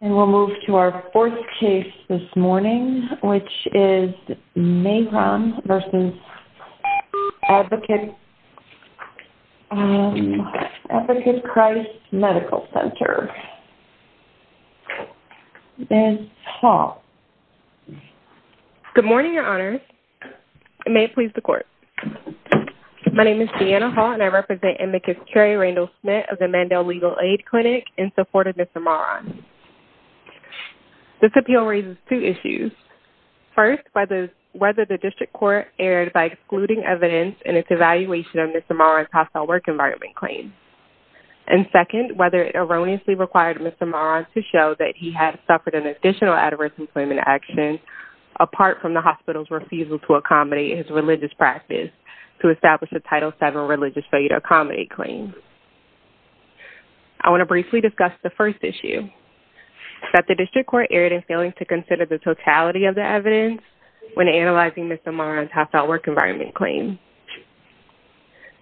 And we'll move to our fourth case this morning which is Mahran v. Advocate Christ Medical Center. Ms. Hall. Good morning, your honors. May it please the court. My name is Deanna Hall and I represent Amicus Kerry Randall-Smith of the Mandel Legal Aid Clinic in support of Ms. Amara. This appeal raises two issues. First, whether the district court erred by excluding evidence in its evaluation of Ms. Amara's hostile work environment claim. And second, whether it erroneously required Mr. Mahran to show that he had suffered an additional adverse employment action apart from the hospital's refusal to accommodate his religious practice to establish a Title VII religious failure to accommodate claim. I want to briefly discuss the first issue, that the district court erred in failing to consider the totality of the evidence when analyzing Ms. Amara's hostile work environment claim.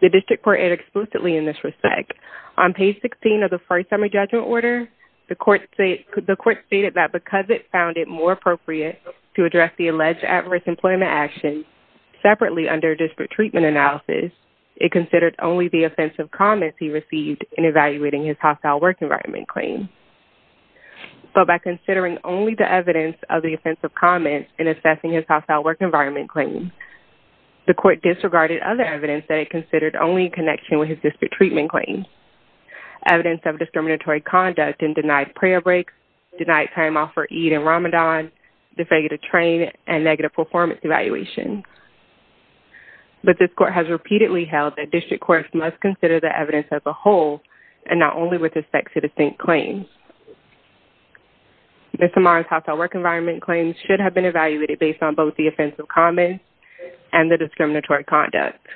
The district court erred exclusively in this respect. On page 16 of the first summary judgment order, the court stated that because it found it more appropriate to address the alleged adverse employment action separately under district treatment analysis, it considered only the comments he received in evaluating his hostile work environment claim. But by considering only the evidence of the offensive comments in assessing his hostile work environment claim, the court disregarded other evidence that it considered only in connection with his district treatment claim. Evidence of discriminatory conduct and denied prayer breaks, denied time off for Eid and Ramadan, the failure to train, and negative performance evaluation. But this court has repeatedly held that district courts must consider the evidence as a whole and not only with respect to distinct claims. Ms. Amara's hostile work environment claim should have been evaluated based on both the offensive comments and the discriminatory conduct.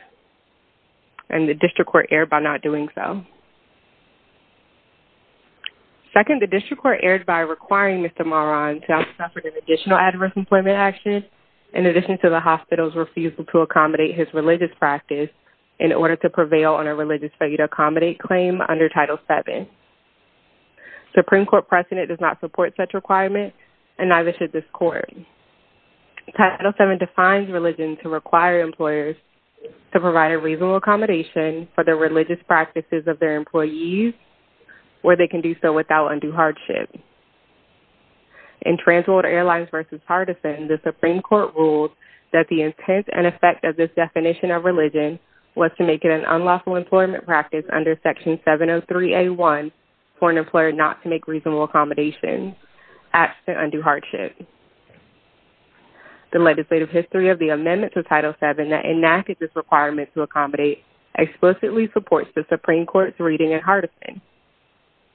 And the district court erred by not doing so. Second, the district court erred by requiring Mr. Mahran to have suffered an additional adverse employment action in addition to the hospital's refusal to accommodate his religious practice in order to prevail on a religious failure to accommodate claim under Title VII. Supreme Court precedent does not support such requirement and neither should this court. Title VII defines religion to require employers to provide a reasonable accommodation for the religious practices of their employees where they can do so without undue hardship. In Transworld Airlines v. Hardison, the Supreme Court ruled that the intent and effect of this definition of religion was to make it an unlawful employment practice under Section 703A1 for an employer not to make reasonable accommodations absent undue hardship. The legislative history of the amendments of Title VII that enacted this requirement to accommodate explicitly supports the Supreme Court's reading in Hardison.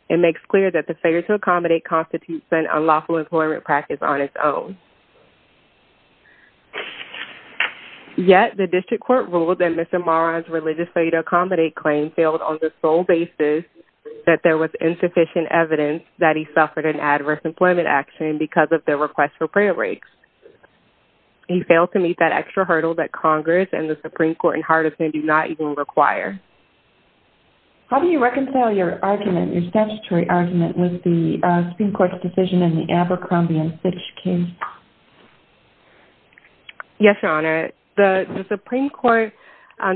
It makes clear that the failure to accommodate constitutes an unlawful employment practice on its own. Yet, the district court ruled that Mr. Mahran's religious failure to accommodate claim failed on the sole basis that there was insufficient evidence that he suffered an adverse employment action because of the request for prayer breaks. He failed to meet that extra hurdle that Congress and the Supreme Court in Hardison do not even require. How do you reconcile your argument, your statutory argument, with the Supreme Court's decision in the Abercrombie and Fitch case? Yes, Your Honor. The Supreme Court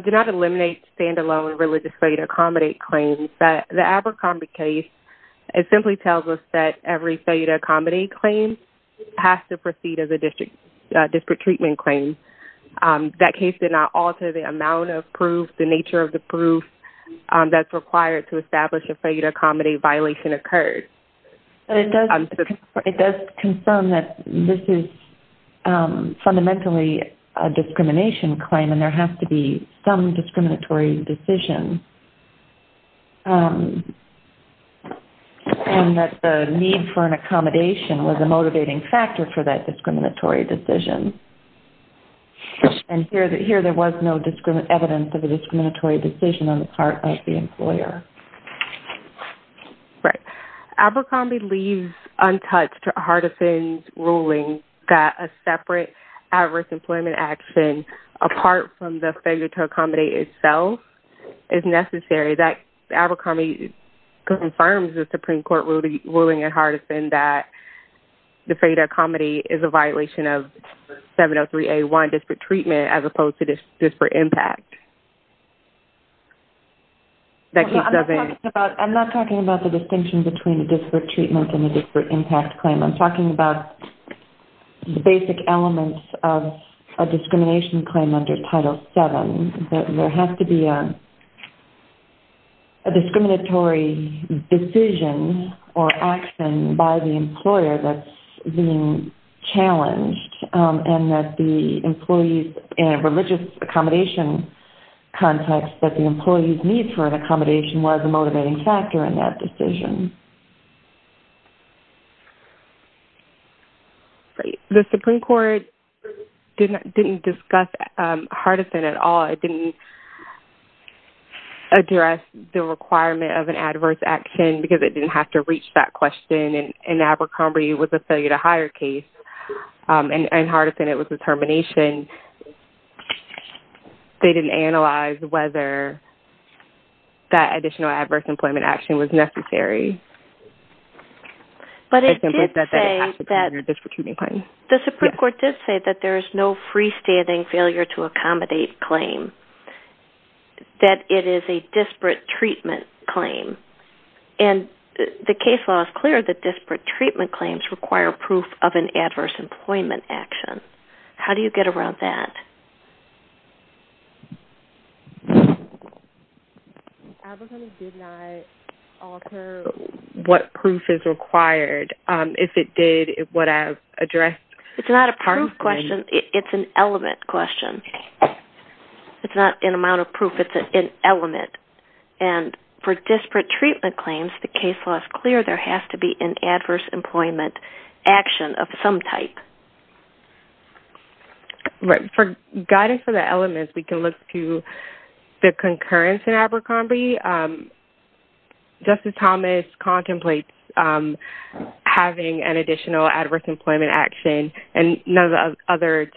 did not eliminate standalone religious failure to accommodate claims, but the Abercrombie case, it simply tells us that every failure to accommodate claim has to proceed as a district treatment claim. That case did not alter the amount of proof that's required to establish a failure to accommodate violation occurred. It does concern that this is fundamentally a discrimination claim and there has to be some discriminatory decision and that the need for an accommodation was a motivating factor for the discriminatory decision on the part of the employer. Right. Abercrombie leaves untouched Hardison's ruling that a separate adverse employment action apart from the failure to accommodate itself is necessary. That Abercrombie confirms the Supreme Court ruling in Hardison that the failure to accommodate is a violation of 703A1 disparate treatment as opposed to disparate impact. I'm not talking about the distinction between a disparate treatment and a disparate impact claim. I'm talking about the basic elements of a discrimination claim under Title VII. There has to be a discriminatory decision or action by the employer that's being challenged and that the employees in a religious accommodation context that the employees need for an accommodation was a motivating factor in that decision. Right. The Supreme Court didn't discuss Hardison at all. It didn't address the requirement of an adverse action because it didn't have to reach that question and Abercrombie was a failure to hire case and Hardison it was a termination. They didn't analyze whether that additional adverse employment action was necessary. But it did say that the Supreme Court did say that there is no freestanding failure to accommodate claim that it is a disparate treatment claim and the case law is clear that disparate treatment claims require proof of an adverse employment action. How do you get around that? Abercrombie did not offer what proof is required. If it did, it would have addressed... It's not a proof question. It's an element question. It's not an amount of proof. It's an element. And for disparate treatment claims, the case law is clear there has to be an adverse employment action of some type. Right. For guidance for the elements, we can look to the concurrence in Abercrombie. Justice Thomas contemplates having an additional adverse employment action and none of the other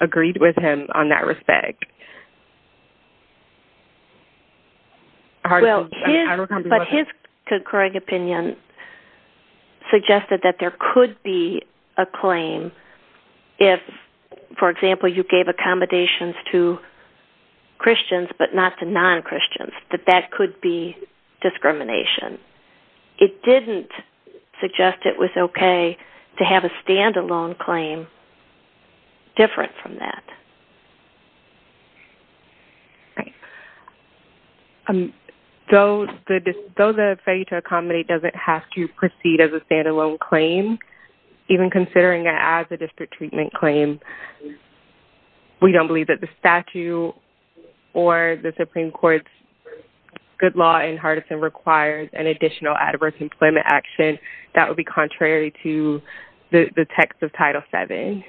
agreed with him on that respect. But his concurring opinion suggested that there could be a claim if, for example, you gave accommodations to Christians but not to non-Christians, that that could be discrimination. It didn't suggest it was okay to have a standalone claim different from that. Right. Though the failure to accommodate doesn't have to proceed as a standalone claim, even considering it as a disparate treatment claim, we don't believe that the statute or the Supreme Court's good law in Hardison requires an additional adverse employment action that would be contrary to the text of Title VII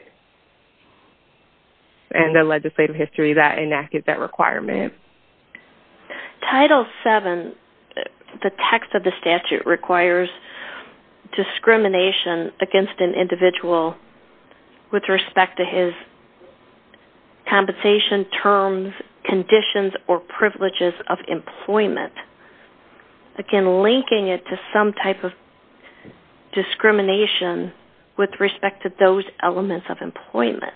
and the legislative history that enacted that requirement. Title VII, the text of the statute requires discrimination against an individual with respect to his compensation terms, conditions, or privileges of employment. Again, linking it to some type of discrimination with respect to those elements of employment.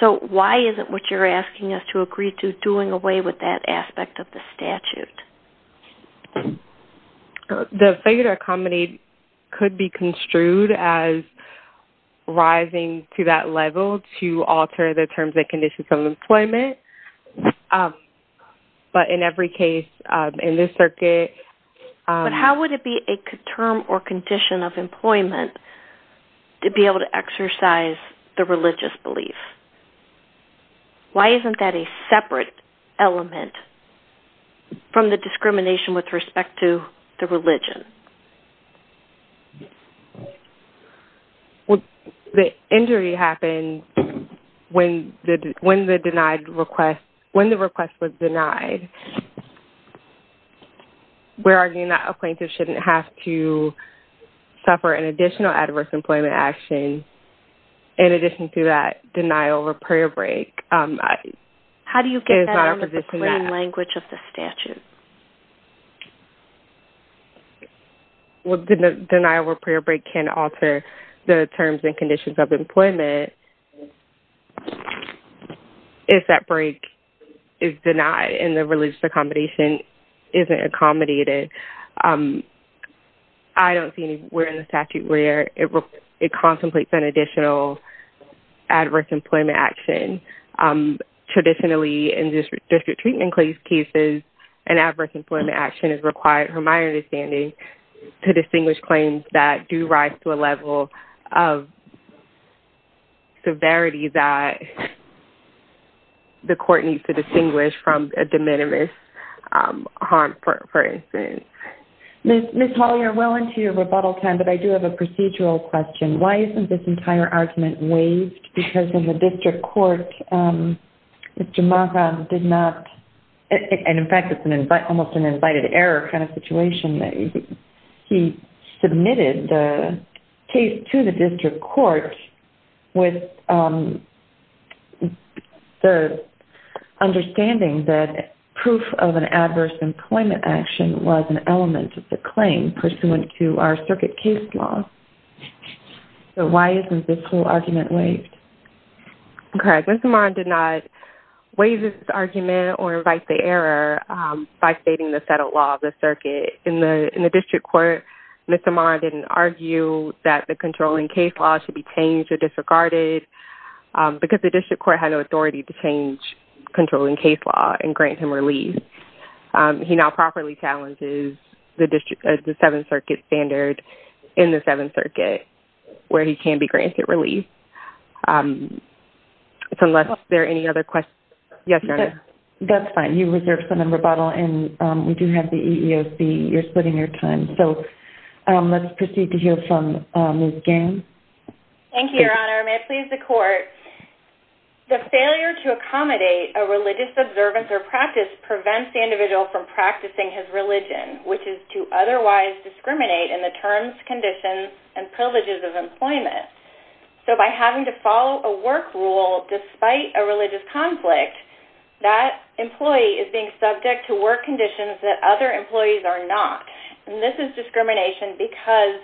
So why isn't what you're asking us to agree to doing away with that aspect of the statute? The failure to accommodate could be construed as rising to that level to alter the terms and conditions of employment. But in every case, in this circuit... But how would it be a term or condition of employment to be able to exercise the religious belief? Why isn't that a separate element from the discrimination with respect to the religion? Well, the injury happened when the request was denied. We're arguing that a plaintiff shouldn't have to suffer an additional adverse employment action in addition to that denial or prayer break. How do you get that out of the plain language of the statute? Well, denial or prayer break can alter the terms and conditions of employment if that break is denied and the religious accommodation isn't accommodated. I don't see anywhere in the statute where it contemplates an additional adverse employment action. Traditionally, in district treatment case cases, an adverse employment action is required, from my understanding, to distinguish claims that do rise to a level of severity that the court needs to distinguish from a de minimis harm, for instance. Ms. Hollyer, well into your rebuttal time, but I do have a procedural question. Why isn't this entire argument waived? Because in the district court, Mr. Magham did not... And in fact, it's almost an incited error kind of situation. He submitted the case to the district court with the understanding that proof of an adverse employment action was an element of the claim pursuant to our circuit case law. So why isn't this whole argument waived? Correct. Mr. Magham did not waive this argument or invite the error by stating the settled law of the circuit. In the district court, Mr. Magham didn't argue that the controlling case should be changed or disregarded because the district court had no authority to change controlling case law and grant him relief. He now properly challenges the seven circuit standard in the seven circuit where he can be granted relief. Unless there are any other questions? Yes, Your Honor. That's fine. You reserved some in rebuttal and we do have the EEOC. You're splitting your time. So let's proceed to hear from Ms. Gaines. Thank you, Your Honor. May it please the court. The failure to accommodate a religious observance or practice prevents the individual from practicing his religion, which is to otherwise discriminate in the terms, conditions, and privileges of employment. So by having to follow a work rule despite a religious conflict, that employee is being subject to work conditions that other employees are not. And this is discrimination because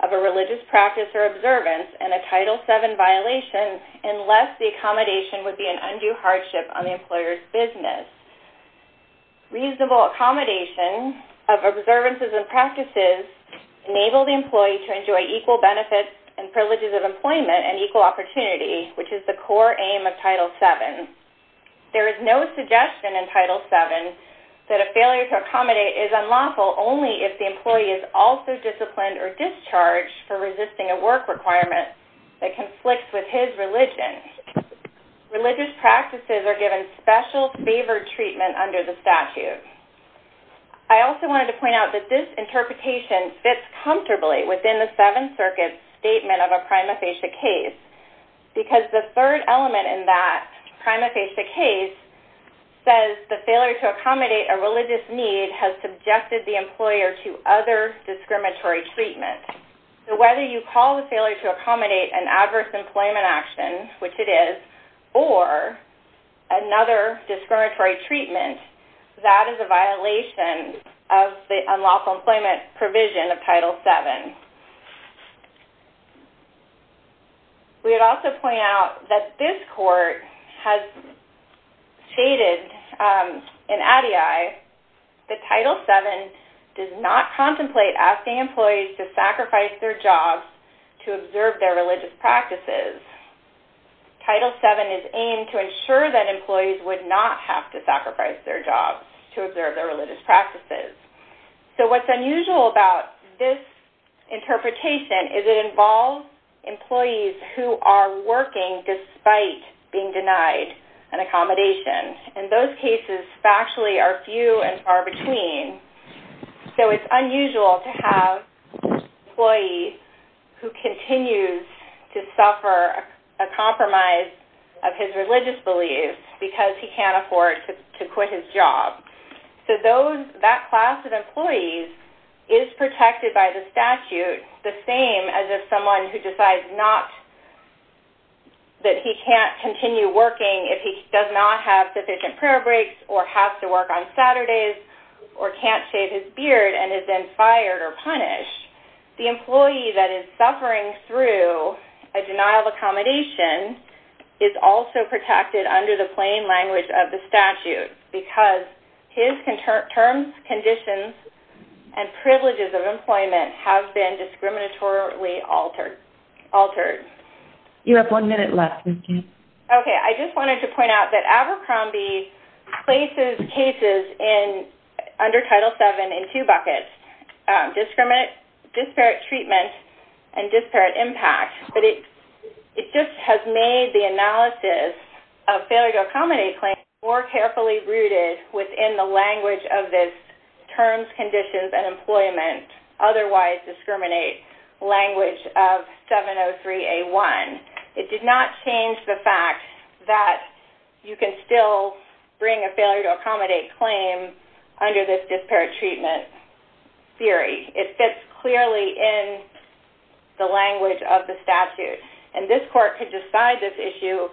of a religious practice or observance and a Title VII violation unless the accommodation would be an undue hardship on the employer's business. Reasonable accommodation of observances and practices enable the employee to enjoy equal benefits and privileges of employment and equal opportunity, which is the core aim of Title VII. There is no suggestion in Title VII that a failure to accommodate is unlawful only if the employee is also disciplined or discharged for resisting a work requirement that conflicts with his religion. Religious practices are given special favored treatment under the statute. I also wanted to point out that this interpretation fits comfortably within the Seventh Circuit's statement of a prima facie case because the third element in that prima facie case says the failure to accommodate a religious need has subjected the employer to other discriminatory treatment. So whether you call the failure to accommodate an adverse employment action, which it is, or another discriminatory treatment, that is a violation of the unlawful employment provision of Title VII. We would also point out that this court has stated in ADI that Title VII does not contemplate asking employees to sacrifice their jobs to observe their religious practices. Title VII is aimed to ensure that employees would not have to sacrifice their jobs to observe their religious practices. So what's unusual about this interpretation is it involves employees who are working despite being denied an accommodation. In those cases, factually, are few and far between. So it's unusual to have an employee who continues to suffer a compromise of his religious beliefs because he can't afford to quit his job. So that class of employees is protected by the statute the same as if someone who decides not that he can't continue working if he does not have sufficient prayer breaks or has to work on Saturdays or can't shave his beard and is then fired or punished. The employee that is suffering through a denial of accommodation is also protected under the plain language of the statute because his terms, conditions, and privileges of employment have been discriminatorily altered. You have one minute left. Okay, I just wanted to point out that Abercrombie places cases under Title VII in two buckets, disparate treatment and disparate impact. But it just has made the analysis of failure to accommodate claims more carefully rooted within the language of this terms, conditions, and employment, otherwise discriminate language of 703A1. It did not change the fact that you can still bring a failure to accommodate claim under this disparate treatment theory. It fits clearly in the language of the statute. And this court could decide this issue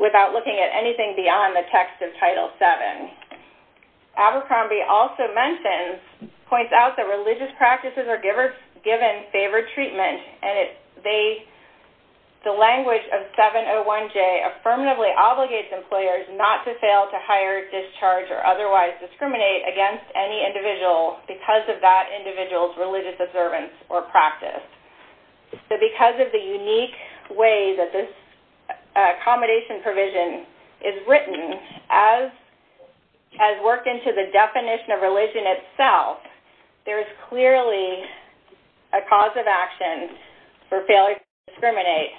without looking at anything beyond the text of Title VII. Abercrombie also points out that religious practices are given favored treatment. And the language of 701J affirmatively obligates employers not to fail to hire, discharge, or otherwise discriminate against any individual because of that individual's religious observance or practice. So because of the unique way that this has worked into the definition of religion itself, there is clearly a cause of action for failure to discriminate,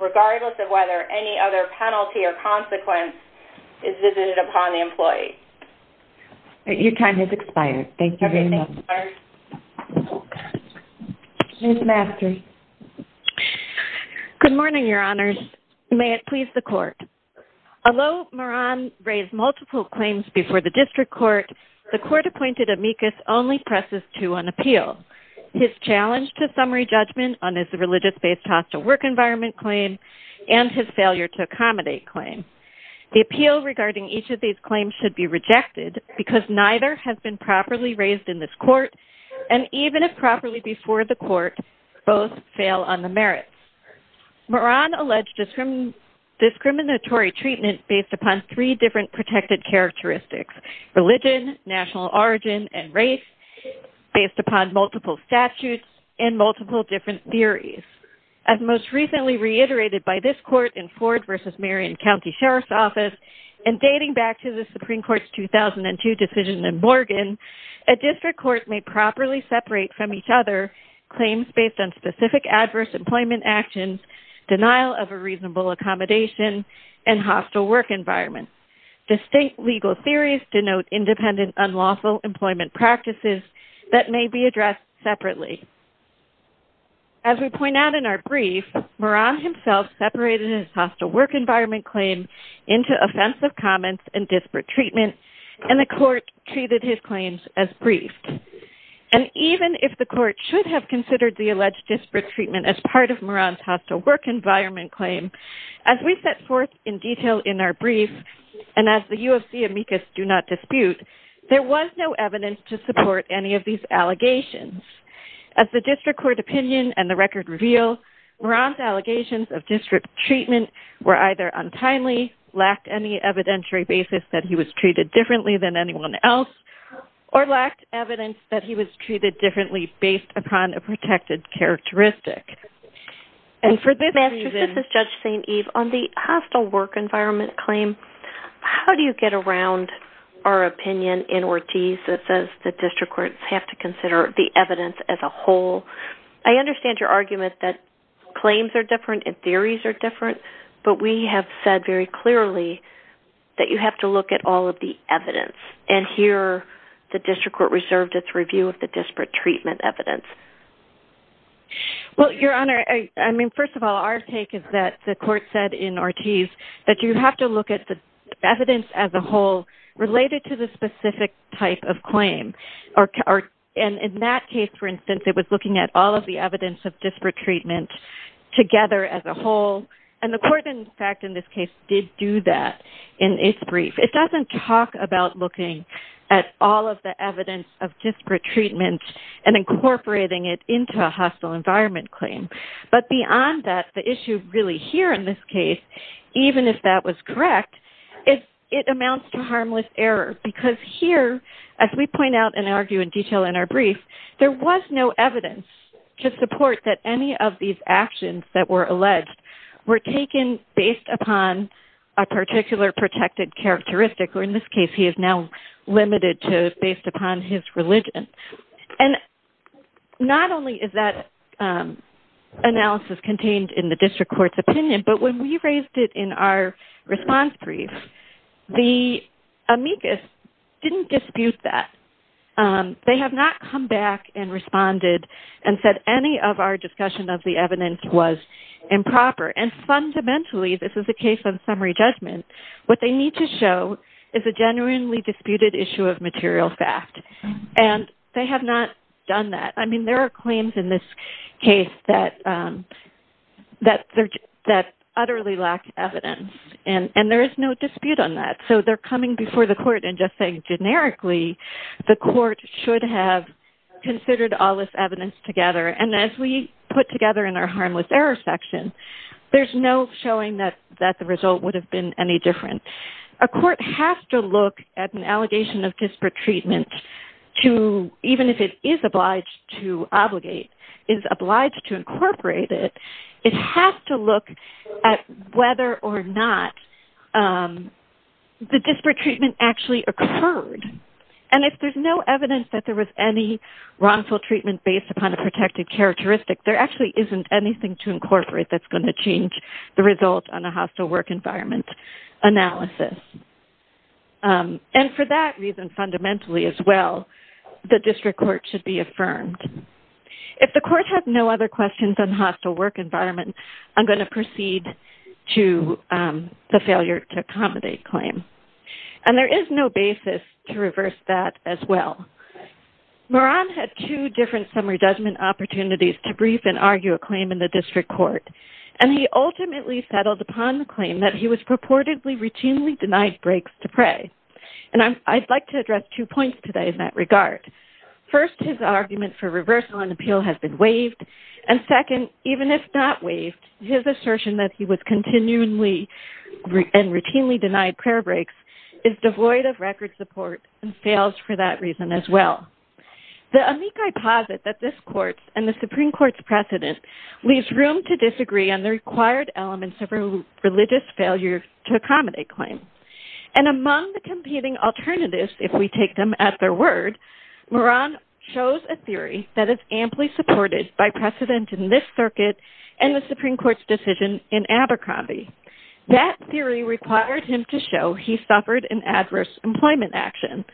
regardless of whether any other penalty or consequence is visited upon the employee. Your time has expired. Thank you very much. Ms. Masters. Good morning, Your Honors. May it please the Court. Although Moran raised multiple claims before the district court, the court-appointed amicus only presses to an appeal. His challenge to summary judgment on his religious-based hostile work environment claim and his failure to accommodate claim. The appeal regarding each of these claims should be rejected because neither has been properly raised in this court, and even if properly before the court, both fail on the merits. Moran alleged discriminatory treatment based upon three different protected characteristics, religion, national origin, and race, based upon multiple statutes and multiple different theories. As most recently reiterated by this court in Ford v. Marion County Sheriff's Office and dating back to the Supreme Court's 2002 decision in Morgan, a district court may properly separate from each other claims based on specific adverse employment actions, denial of a reasonable accommodation, and hostile work environment. Distinct legal theories denote independent unlawful employment practices that may be addressed separately. As we point out in our brief, Moran himself separated his hostile work environment claim into offensive comments and disparate treatment, and the court treated his claims as briefed. And even if the court should have considered the alleged disparate treatment as part of Moran's hostile work environment claim, as we set forth in detail in our brief, and as the U of C amicus do not dispute, there was no evidence to support any of these allegations. As the district court opinion and the record reveal, Moran's allegations of disparate treatment were either untimely, lacked any evidentiary basis that he was treated differently than anyone else, or lacked evidence that he was treated differently based upon a protected characteristic. And for this reason, Judge St. Eve, on the hostile work environment claim, how do you get around our opinion in Ortiz that says the district courts have to consider the evidence as a whole? I understand your argument that claims are different and theories are different, but we have said very clearly that you have to look at all of the evidence and hear the district court reserved its review of the disparate treatment evidence. Well, Your Honor, I mean, first of all, our take is that the court said in Ortiz that you have to look at the evidence as a whole related to the specific type of claim. And in that case, for instance, it was looking at all of the evidence of disparate treatment together as a whole. And the court, in fact, in this case did do that in its brief. It doesn't talk about looking at all of the evidence of disparate treatment and incorporating it into a hostile environment claim. But beyond that, the issue really here in this case, even if that was correct, it amounts to harmless error. Because here, as we point out and argue in detail in our brief, there was no evidence to support that any of these actions that were in this case, he is now limited to based upon his religion. And not only is that analysis contained in the district court's opinion, but when we raised it in our response brief, the amicus didn't dispute that. They have not come back and responded and said any of our discussion of the evidence was improper. And fundamentally, this is a case of summary judgment. What they need to show is a genuinely disputed issue of material fact. And they have not done that. I mean, there are claims in this case that utterly lack evidence. And there is no dispute on that. So they're coming before the court and just saying generically, the court should have considered all this evidence together. And as we put together in our harmless error section, there's no showing that that the result would have been any different. A court has to look at an allegation of disparate treatment, to even if it is obliged to obligate is obliged to incorporate it, it has to look at whether or not the disparate treatment actually occurred. And if there's no evidence that there was any wrongful treatment based upon a protected characteristic, there actually isn't anything to incorporate that's going to change the result on a hostile work environment analysis. And for that reason, fundamentally, as well, the district court should be affirmed. If the court has no other questions on hostile work environment, I'm going to proceed to the two different summary judgment opportunities to brief and argue a claim in the district court. And he ultimately settled upon the claim that he was purportedly routinely denied breaks to pray. And I'd like to address two points today in that regard. First, his argument for reversal and appeal has been waived. And second, even if not waived, his assertion that he was continually and routinely denied prayer breaks is devoid of record support and fails for that reason as well. The amici posit that this court and the Supreme Court's precedent leaves room to disagree on the required elements of a religious failure to accommodate claim. And among the competing alternatives, if we take them at their word, Moran shows a theory that is amply supported by precedent in this circuit and the Supreme Court's decision in Abercrombie. That theory required him to show he suffered in adverse employment action.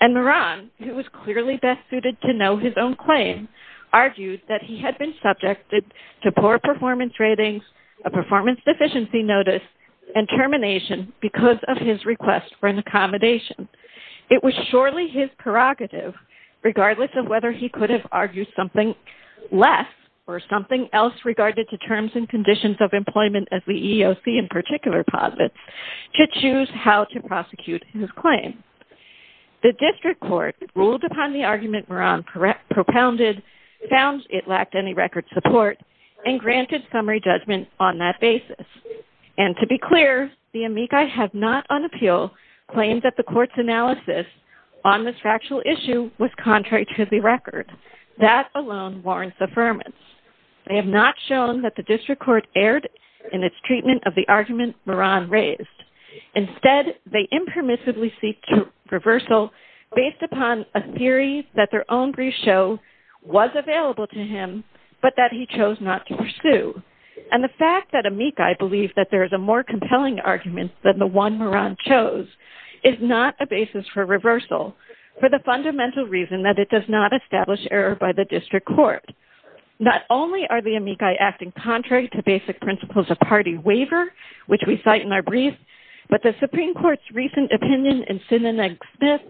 And Moran, who was clearly best suited to know his own claim, argued that he had been subjected to poor performance ratings, a performance deficiency notice, and termination because of his request for an accommodation. It was surely his prerogative, regardless of whether he could have argued something less or something else regarded to terms and conditions of employment as the EEOC in particular to choose how to prosecute his claim. The district court ruled upon the argument Moran propounded found it lacked any record support and granted summary judgment on that basis. And to be clear, the amici have not on appeal claimed that the court's analysis on this factual issue was contrary to the record. That alone warrants affirmance. They have not shown that the district court erred in its treatment of the argument Moran raised. Instead, they impermissibly seek reversal based upon a theory that their own brief show was available to him, but that he chose not to pursue. And the fact that amici believe that there is a more compelling argument than the one Moran chose is not a basis for reversal for the fundamental reason that it does not establish error by the district court. Not only are the amici acting contrary to basic principles of party waiver, which we cite in our brief, but the Supreme Court's recent opinion in Sinanig-Smith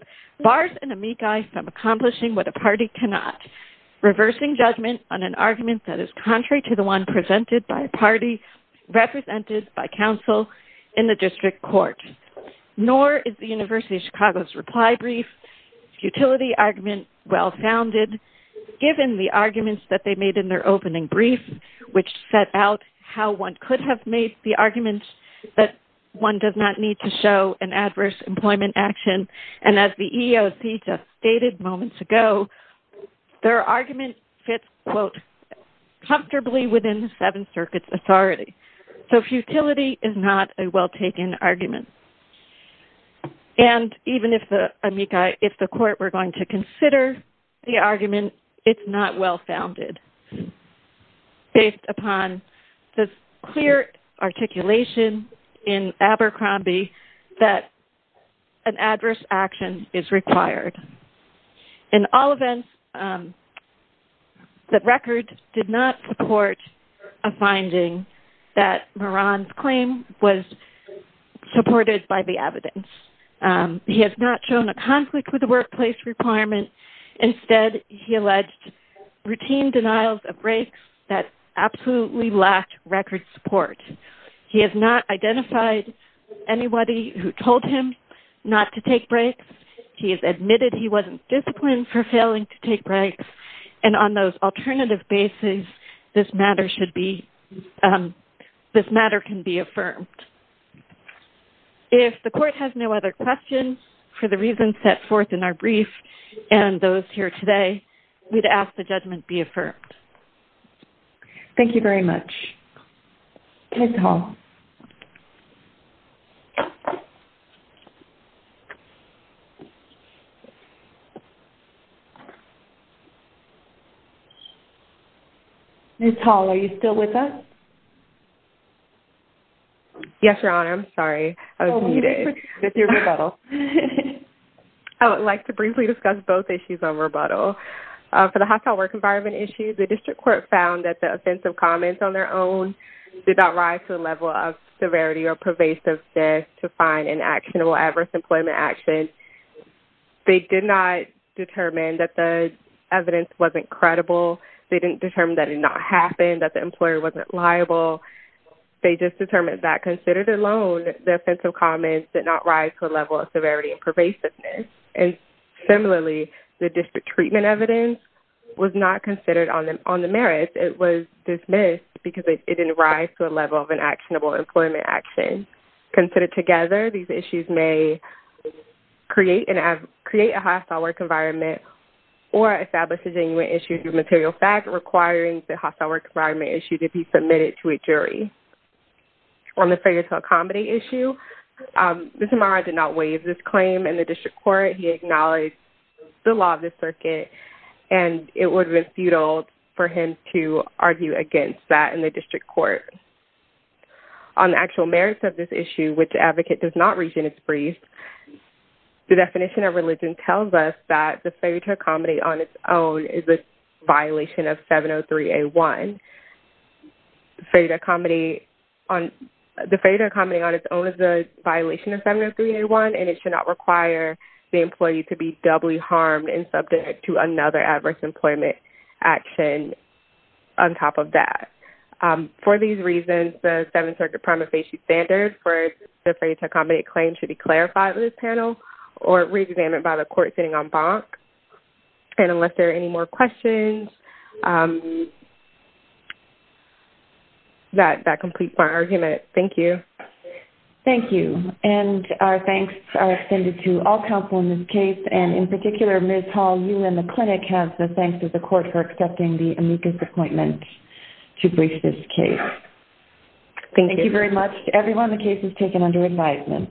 bars an amici from accomplishing what a party cannot, reversing judgment on an argument that is contrary to the one presented by a party represented by counsel in the district court. Nor is the University of Chicago's reply brief futility argument well-founded, given the arguments that they made in their opening brief, which set out how one could have made the arguments that one does not need to show an adverse employment action. And as the EEOC just stated moments ago, their argument fits, quote, comfortably within the seven circuits authority. So futility is not a well-taken argument. And even if the amici, if the court were going to consider the argument, it's not well-founded, based upon the clear articulation in Abercrombie that an adverse action is required. In all events, the record did not support a finding that Moran's claim was supported by the evidence. He has not shown a conflict with the workplace requirement. Instead, he alleged routine denials of breaks that absolutely lacked record support. He has not identified anybody who told him not to take breaks. He has admitted he wasn't disciplined for failing to take breaks. And on those alternative bases, this matter should be this matter can be affirmed. If the court has no other questions for the reasons set forth in our brief and those here today, we'd ask the judgment be affirmed. Thank you very much. Ms. Hall. Ms. Hall, are you still with us? Yes, Your Honor. I'm sorry. I was muted. I would like to briefly discuss both issues on rebuttal. For the hostile work environment issue, the district court found that the offensive comments on their own did not rise to a level of severity or pervasive to find an actionable adverse employment action. They did not determine that the evidence wasn't credible. They didn't determine that it did not happen, that the employer wasn't liable. They just determined that, considered alone, the offensive comments did not rise to a level of severity and pervasiveness. And similarly, the district treatment evidence was not considered on the merits. It was dismissed because it didn't rise to a level of an actionable employment action. Considered together, these issues may create a hostile work environment or establish a genuine issue through material fact requiring the hostile work environment issue to be submitted to a jury. On the failure to accommodate issue, Mr. Marra did not waive this claim in the district court. He acknowledged the law of the circuit and it would have been futile for him to argue against that in the district court. On the actual merits of this issue, which the advocate does not reach in its brief, the definition of religion tells us that the failure to accommodate on its own is a violation of 703A1. The failure to accommodate on its own is a violation of 703A1 and it should not require the employee to be doubly harmed and subject to another adverse employment action on top of that. For these reasons, the seven circuit prima facie standards for the failure to accommodate claim should be clarified in this panel or reexamined by the district court sitting en banc. Unless there are any more questions, that completes my argument. Thank you. Thank you. Our thanks are extended to all counsel in this case. In particular, Ms. Hall, you and the clinic have the thanks of the court for accepting the amicus appointment to brief this case. Thank you very much to everyone. The case is taken under advisement.